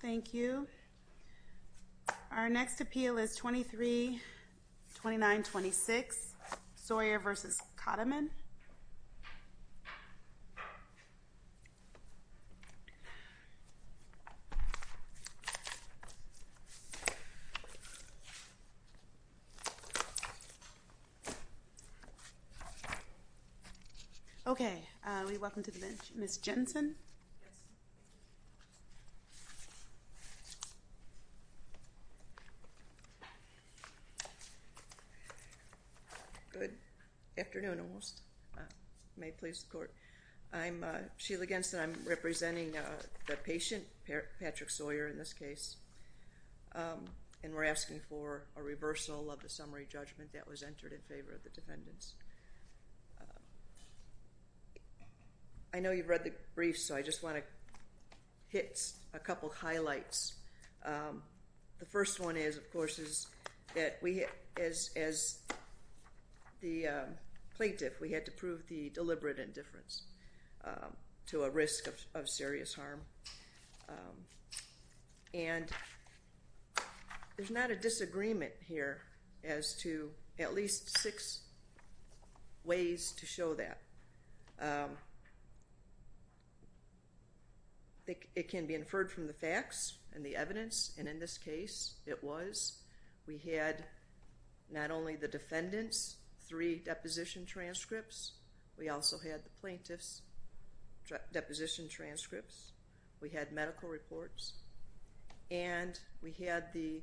Thank you. Our next appeal is 23-29-26 Sawyer v. Kottemann. Okay, we welcome to the bench Ms. Jensen. Good afternoon almost. May it please the court. I'm Sheila Jensen. I'm representing the patient, Patrick Sawyer in this case, and we're asking for a reversal of the summary judgment that was entered in favor of the defendants. I know you've read the brief, so I just want to hit a couple highlights. The first one is, of course, is that as the plaintiff we had to prove the deliberate indifference to a risk of serious harm, and there's not a disagreement here as to at least six ways to show that. It can be inferred from the facts and the evidence, and in this case it was. We had not only the defendant's three deposition transcripts, we also had the plaintiff's deposition transcripts, we had medical reports, and we had the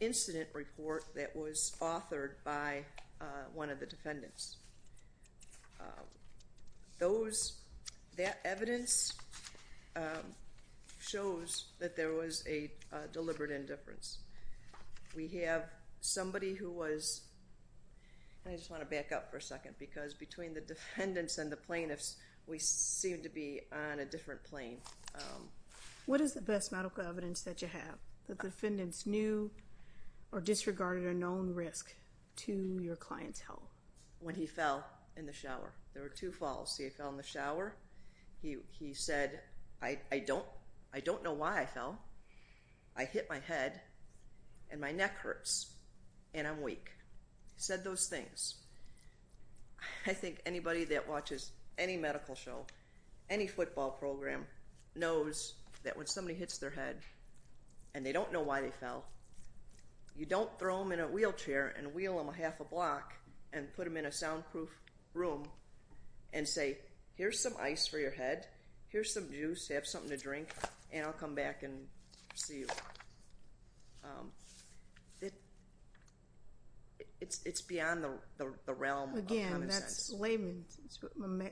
incident report that was authored by one of the defendants. That evidence shows that there was a deliberate indifference. We have somebody who was, and I just want to back up for a second, because between the defendants and the plaintiffs we seem to be on a different plane. What is the best medical evidence that you have that the defendants knew or disregarded a known risk to your client's health? When he fell in the shower, there were two falls. He fell in the shower. He said, I don't know why I fell. I hit my head, and my neck hurts, and I'm weak. He said those things. I think anybody that don't know why they fell, you don't throw them in a wheelchair and wheel them a half a block and put them in a soundproof room and say, here's some ice for your head, here's some juice, have something to drink, and I'll come back and see you. It's beyond the realm of common sense. Again, that's layman's,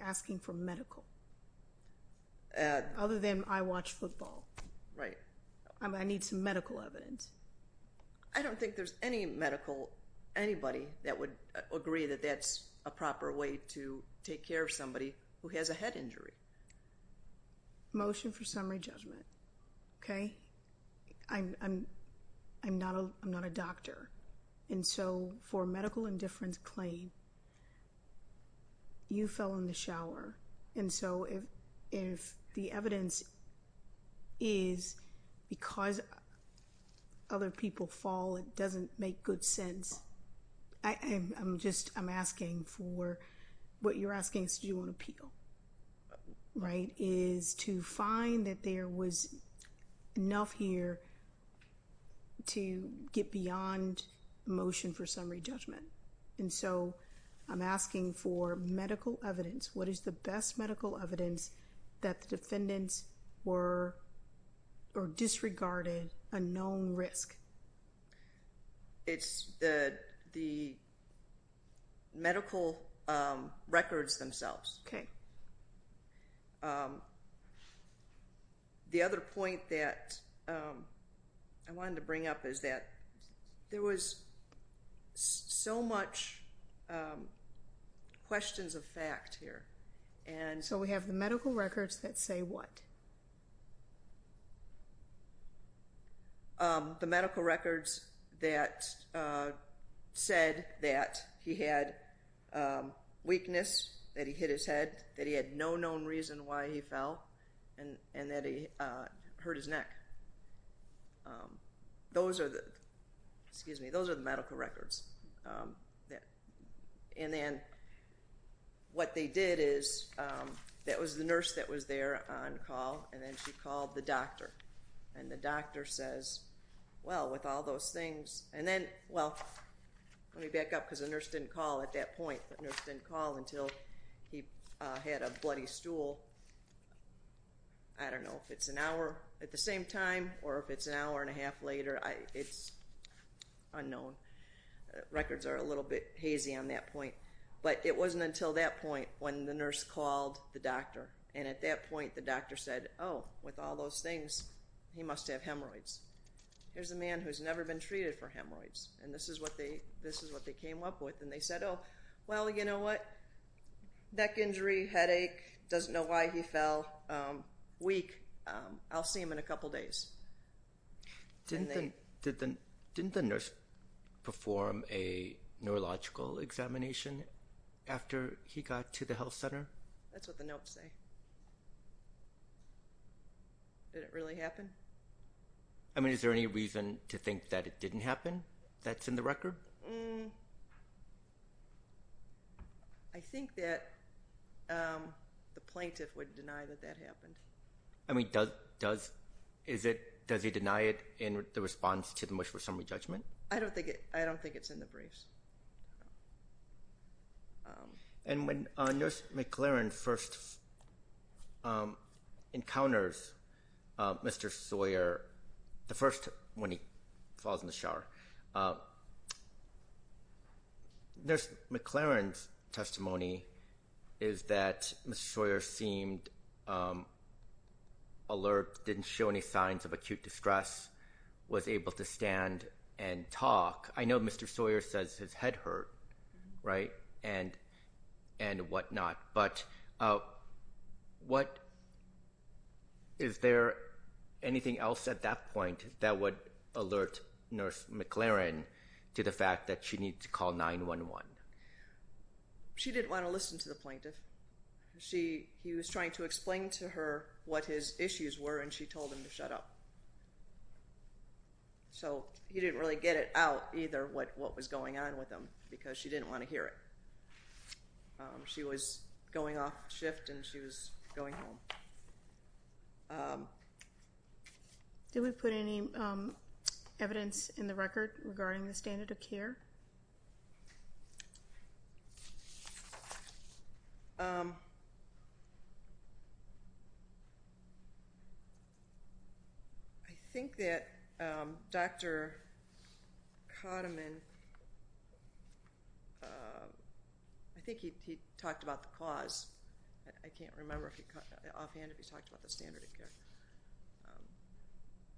asking for medical, other than I watch football. I need some medical evidence. I don't think there's any medical, anybody that would agree that that's a proper way to take care of somebody who has a head injury. Motion for summary judgment. Okay, I'm not a doctor, and so for a medical indifference claim, you fell in the shower, and so if the evidence is because other people fall, it doesn't make good sense. I'm just, I'm asking for, what you're asking is do you want to appeal, right? Is to find that there was enough here to get beyond motion for summary judgment, and so I'm asking for medical evidence. What is the best medical evidence that the defendants were, or disregarded a known risk? It's the medical records themselves. Okay. The other point that I wanted to bring up is that there was so much questions of fact here, and so we have the medical records that say what? The medical records that said that he had weakness, that he hit his head, that he had no known reason why he fell, and that he hurt his neck. Those are the, excuse me, those are the medical records, and then what they did is, that was the nurse that was there on call, and then she called the doctor, and the doctor says, well, with all those things, and then, well, let me back up because the nurse didn't call at that point. The nurse didn't call until he had a bloody stool. I don't know if it's an hour. At the same time, or if it's an hour and a half later, it's unknown. Records are a little bit hazy on that point, but it wasn't until that point when the nurse called the doctor, and at that point, the doctor said, oh, with all those things, he must have hemorrhoids. Here's a man who's never been treated for hemorrhoids, and this is what they came up with, and they said, oh, well, you know what? Neck injury, headache, doesn't know why he fell, weak. I'll see him in a couple days. Didn't the nurse perform a neurological examination after he got to the health center? That's what the notes say. Didn't really happen. I mean, is there any reason to think that it didn't happen, that's in the record? I think that the plaintiff would deny that that happened. I mean, does he deny it in the response to the most reasonable judgment? I don't think it's in the briefs. And when Nurse McLaren first encounters Mr. Sawyer, the first when he falls in the shower, Nurse McLaren's testimony is that Mr. Sawyer seemed alert, didn't show any signs of acute distress, was able to stand and talk. I know Mr. Sawyer says his head hurt, right, and whatnot, but what, is there anything else at that point that would alert Nurse McLaren to the fact that she needs to call 911? She didn't want to listen to the plaintiff. He was trying to explain to her what his issues were, and she told him to shut up. So he didn't really get it out, either, what was going on with him, because she didn't want to hear it. She was going off shift, and she was going home. Did we put any evidence in the record regarding the standard of care? I think that Dr. Kotteman, I think he talked about the cause. I can't remember offhand if he talked about the standard of care.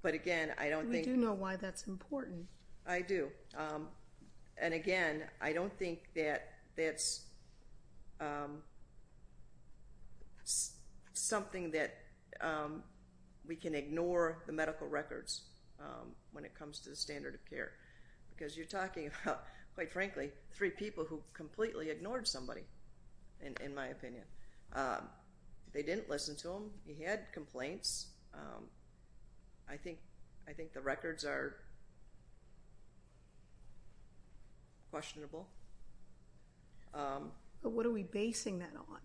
But again, I don't think... And again, I don't think that that's something that we can ignore the medical records when it comes to the standard of care, because you're talking about, quite frankly, three people who completely ignored somebody, in my opinion. They didn't listen to him. He had complaints. I think the records are questionable. But what are we basing that on?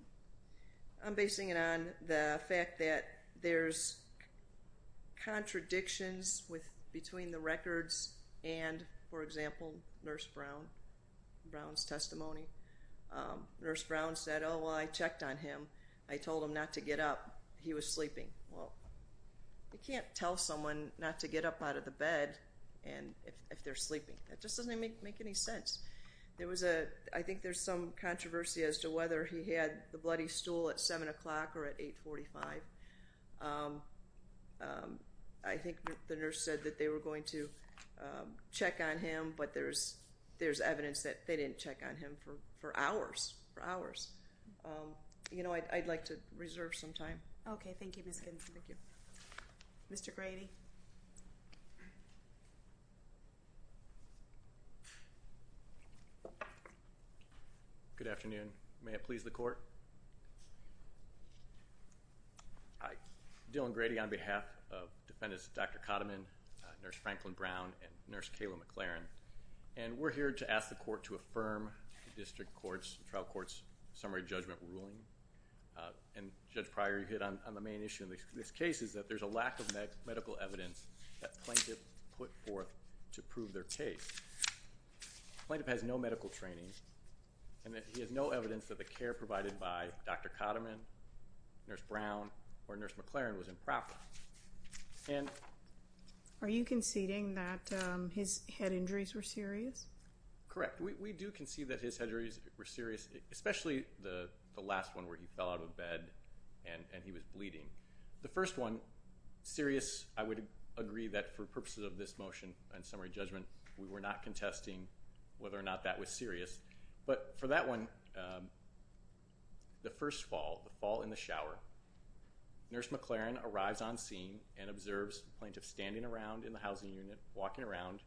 I'm basing it on the fact that there's contradictions between the records and, for example, Nurse Brown, Brown's testimony. Nurse Brown said, oh, I checked on him. I told him not to get up. He was sleeping. Well, you can't tell someone not to get up out of the bed if they're sleeping. That just doesn't make any sense. I think there's some controversy as to whether he had the bloody stool at 7 o'clock or at 8.45. I think the nurse said that they were going to check on him, but there's evidence that they didn't check on him for hours, for hours. You know, I'd like to reserve some time. Okay. Thank you, Ms. Ginton. Thank you. Mr. Grady. Good afternoon. May it please the Court? Hi. Dillon Grady on behalf of Defendants Dr. Cotterman, Nurse Franklin Brown, and Nurse Kayla McClaren. I'd like to make a comment on the primary judgment ruling, and Judge Pryor, you hit on the main issue in this case, is that there's a lack of medical evidence that plaintiff put forth to prove their case. Plaintiff has no medical training, and he has no evidence that the care provided by Dr. Cotterman, Nurse Brown, or Nurse McLaren was improper. Are you conceding that his head injuries were serious? Correct. We do concede that his head injuries were serious, especially the last one where he fell out of bed and he was bleeding. The first one, serious, I would agree that for purposes of this motion and summary judgment, we were not contesting whether or not that was serious. But for that one, the first fall, the fall in the shower, Nurse McLaren arrives on scene and observes plaintiff standing around in the housing unit, walking around.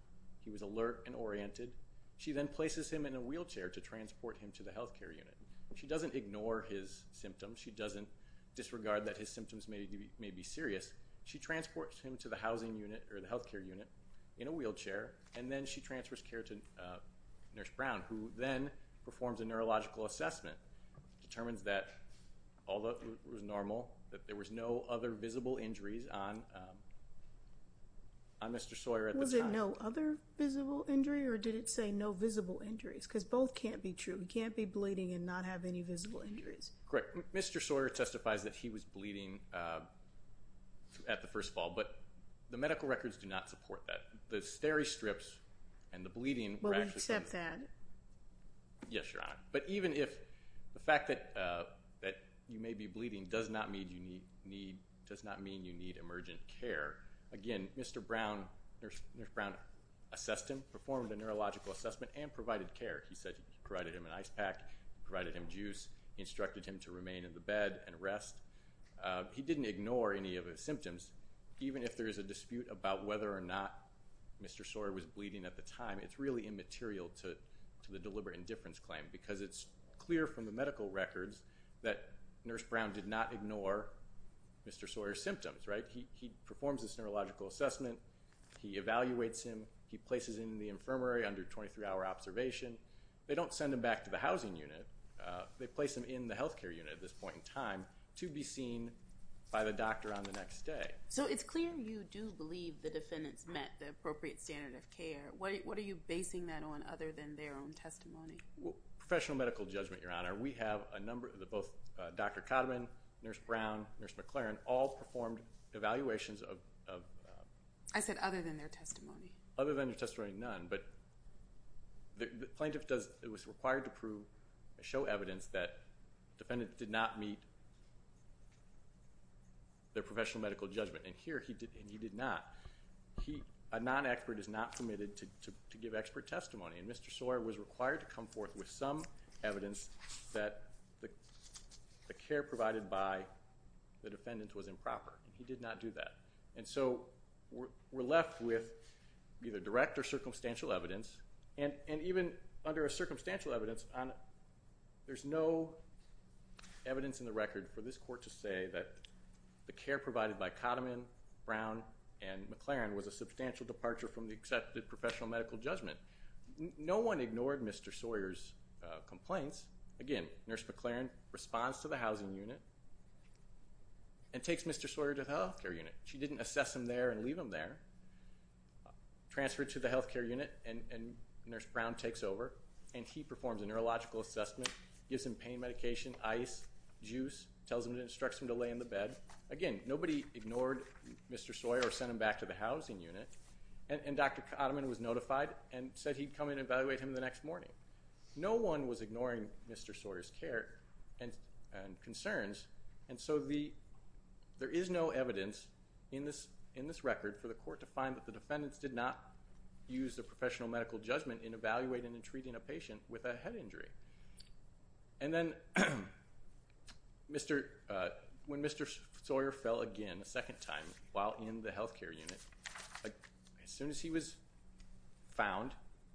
He was alert and oriented. She then places him in a wheelchair to transport him to the health care unit. She doesn't ignore his symptoms. She doesn't disregard that his symptoms may be serious. She transports him to the housing unit or the health care unit in a wheelchair, and then she transfers care to Nurse Brown, who then performs a neurological assessment, determines that all that was normal, that there was no other visible injuries on Mr. Sawyer at the time. Was there no other visible injury or did it say no visible injuries? Because both can't be true. He can't be bleeding and not have any visible injuries. Correct. Mr. Sawyer testifies that he was bleeding at the first fall, but the medical records do not support that. The steri-strips and the bleeding were actually... Will we accept that? Yes, Your Honor. But even if the fact that you may be bleeding does not mean you need emergent care. Again, Nurse Brown assessed him, performed a neurological assessment, and provided care. He said he provided him an ice pack, provided him juice, instructed him to remain in the bed and rest. He didn't ignore any of his symptoms. Even if there is a dispute about whether or not Mr. Sawyer was bleeding at the time, it's really immaterial to the deliberate indifference claim because it's clear from the medical records that Nurse Brown did not ignore Mr. Sawyer's symptoms, right? He performs this neurological assessment. He evaluates him. He places him in the infirmary under 23-hour observation. They don't send him back to the housing unit. They place him in the health care unit at this point in time to be seen by the doctor on the next day. So it's clear you do believe the defendants met the appropriate standard of care. What are you basing that on other than their own testimony? Professional medical judgment, Your Honor. We have a number of both Dr. Kottman, Nurse Brown, Nurse McLaren all performed evaluations of... I said other than their testimony. Other than their testimony, none. But the plaintiff was required to show evidence that defendants did not meet their professional medical judgment. And here he did not. A non-expert is not permitted to give expert testimony. And Mr. Sawyer was required to come forth with some evidence that the care provided by the defendant was improper. He did not do that. And so we're left with either direct or circumstantial evidence. And even under a circumstantial evidence, there's no evidence in the record for this court to say that the care provided by Kottman, Brown, and McLaren was a substantial departure from the accepted professional medical judgment. No one ignored Mr. Sawyer's complaints. Again, Nurse McLaren responds to the housing unit and takes Mr. Sawyer to the health care unit. She didn't assess him there and leave him there. Transferred to the health care unit and Nurse Brown takes over and he performs a neurological assessment, gives him pain medication, ice, juice, tells him and nobody ignored Mr. Sawyer or sent him back to the housing unit. And Dr. Kottman was notified and said he'd come and evaluate him the next morning. No one was ignoring Mr. Sawyer's care and concerns. And so there is no evidence in this record for the court to find that the defendants did not use the professional medical judgment in evaluating and treating a patient with a head fell again a second time while in the health care unit. As soon as he was found,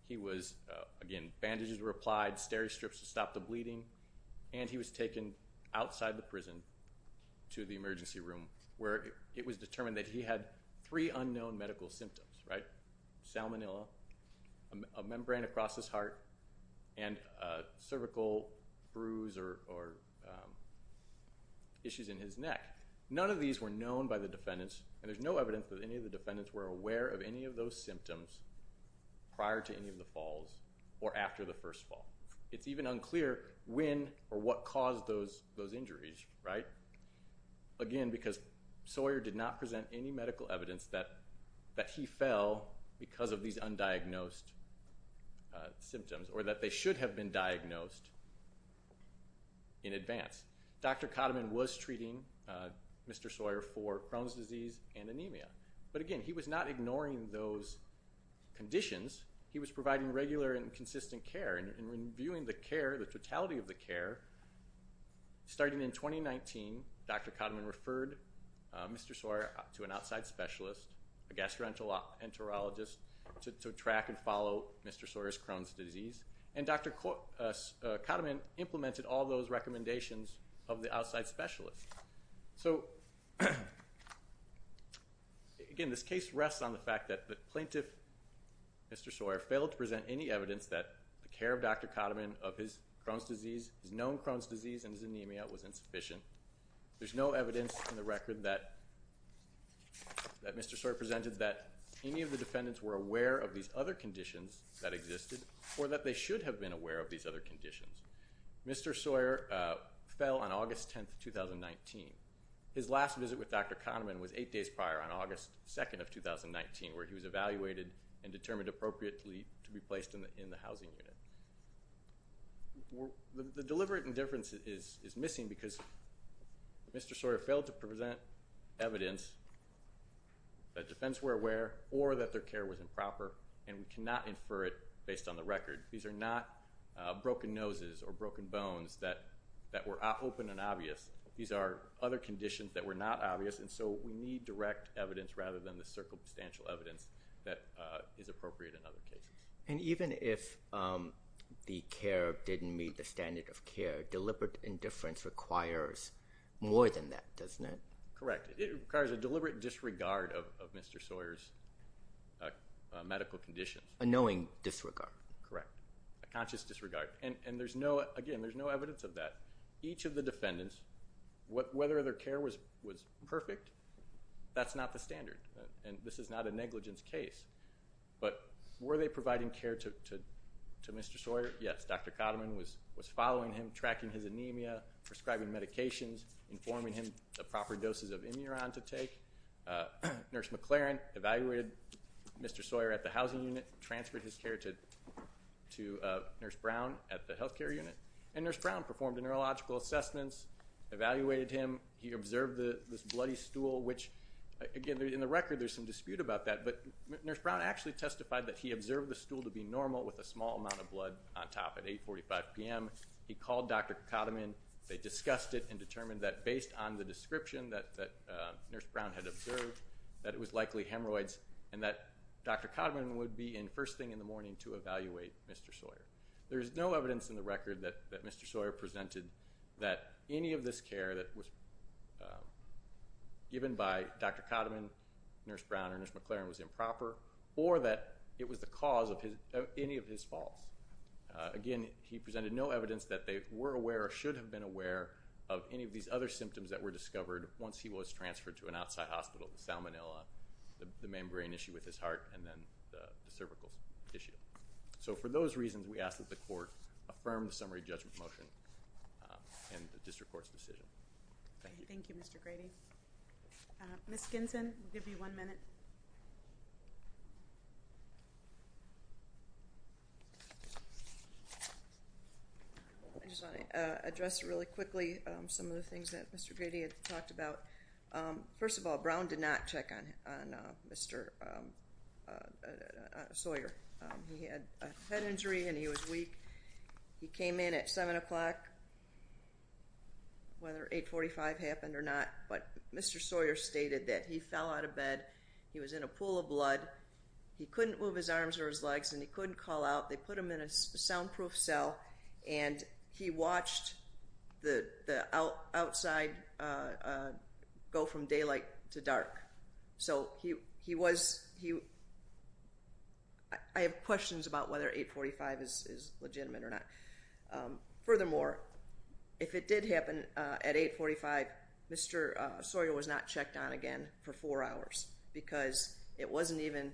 he was again, bandages were applied, steri-strips to stop the bleeding, and he was taken outside the prison to the emergency room where it was determined that he had three unknown medical symptoms, right? Salmonella, a membrane across his heart, and a cervical bruise or issues in his neck. None of these were known by the defendants and there's no evidence that any of the defendants were aware of any of those symptoms prior to any of the falls or after the first fall. It's even unclear when or what caused those injuries, right? Again, because Sawyer did not present any medical evidence that he fell because of these undiagnosed symptoms or that they should have been diagnosed in advance. Dr. Kotteman was treating Mr. Sawyer for Crohn's disease and anemia, but again, he was not ignoring those conditions. He was providing regular and consistent care and reviewing the care, the totality of the care. Starting in 2019, Dr. Kotteman referred Mr. Sawyer to an outside specialist, a gastroenterologist, to track and follow Mr. Sawyer's Crohn's disease, and Dr. Kotteman implemented all those recommendations of the outside specialist. So again, this case rests on the fact that the plaintiff, Mr. Sawyer, failed to present any evidence that the care of Dr. Kotteman of his Crohn's disease, his known Crohn's disease, and his anemia was insufficient. There's no evidence in the record that Mr. Sawyer presented that any of the defendants were aware of these other conditions that existed or that they should have been aware of these other conditions. Mr. Sawyer fell on August 10th, 2019. His last visit with Dr. Kotteman was eight days prior on August 2nd of 2019, where he was evaluated and determined appropriately to be placed in the housing unit. The deliberate indifference is missing because Mr. Sawyer failed to present evidence that defendants were aware or that their care was improper, and we cannot infer it based on the record. These are not broken noses or broken bones that were open and obvious. These are other conditions that were not obvious, and so we need direct evidence rather than the circumstantial evidence that is appropriate in other cases. And even if the care didn't meet the standard of care, deliberate indifference requires more than that, doesn't it? Correct. It requires a deliberate disregard of Mr. Sawyer's medical conditions. A knowing disregard. Correct. A conscious disregard. And there's no, again, there's no evidence of that. Each of the defendants, whether their care was perfect, that's not the standard, and this is not a negligence case. But were they providing care to Mr. Sawyer? Yes. Dr. Kotteman was following him, tracking his anemia, prescribing medications, informing him the proper doses of Imuron to take. Nurse McLaren evaluated Mr. Sawyer at the housing unit, transferred his care to Nurse Brown at the healthcare unit, and Nurse Brown performed a neurological assessment, evaluated him, he observed this bloody stool, which, again, in the record there's some dispute about that, but Nurse Brown actually testified that he observed the stool to be normal with a small amount of blood on top at 8.45 p.m. He called Dr. Kotteman. They discussed it and determined that based on the description that Nurse Brown had observed, that it was likely hemorrhoids, and that Dr. Kotteman would be in first thing in the morning to evaluate Mr. Sawyer. There's no evidence in the record that Mr. Sawyer presented that any of this care that was given by Dr. Kotteman, Nurse Brown, or Nurse McLaren was improper, or that it was the cause of any of his falls. Again, he presented no evidence that they were aware or should have been aware of any of these other symptoms that were discovered once he was transferred to an ICU with his heart and then the cervical tissue. So for those reasons, we ask that the court affirm the summary judgment motion and the district court's decision. Thank you, Mr. Grady. Ms. Ginson, we'll give you one minute. I just want to address really quickly some of the things that Mr. Grady had talked about. First of all, Brown did not check on Mr. Sawyer. He had a head injury and he was weak. He came in at 7 o'clock, whether 845 happened or not, but Mr. Sawyer stated that he fell out of bed. He was in a pool of blood. He couldn't move his arms or his legs and he couldn't call out. They put him in a soundproof cell and he watched the outside go from daylight to dark. So, I have questions about whether 845 is legitimate or not. Furthermore, if it did happen at 845, Mr. Sawyer was not checked on again for four hours because it wasn't even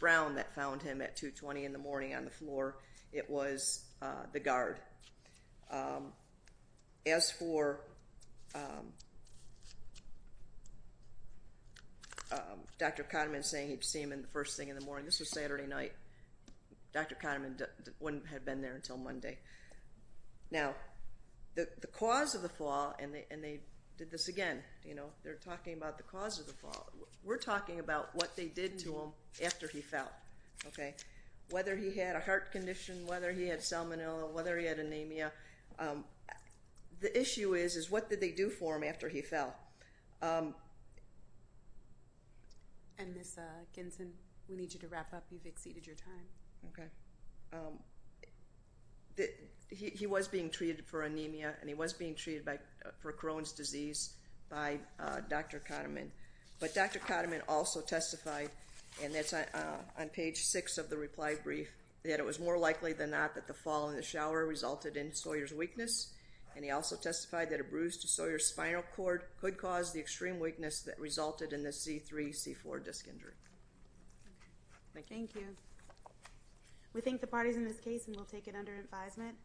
Brown that found him at 220 in the morning on the floor. It was the guard. As for Dr. Kahneman saying he'd seen him the first thing in the morning, this was Saturday night. Dr. Kahneman wouldn't have been there until Monday. Now, the cause of the fall, and they did this again, you know, they're talking about the cause of the fall. We're talking about what they did to him after he fell. Whether he had a heart condition, whether he had salmonella, whether he had anemia, the issue is what did they do for him after he fell? And Ms. Ginson, we need you to wrap up. You've exceeded your time. Okay. He was being treated for anemia and he was being treated for Crohn's disease by Dr. Kahneman. But Dr. Kahneman also testified, and that's on page six of the reply brief, that it was more likely than not that the fall in the shower resulted in Sawyer's weakness. And he also testified that a bruise to Sawyer's spinal cord could cause the extreme weakness that resulted in the C3-C4 disc injury. Thank you. Thank you. We thank the parties in this case and we'll take it under advisement.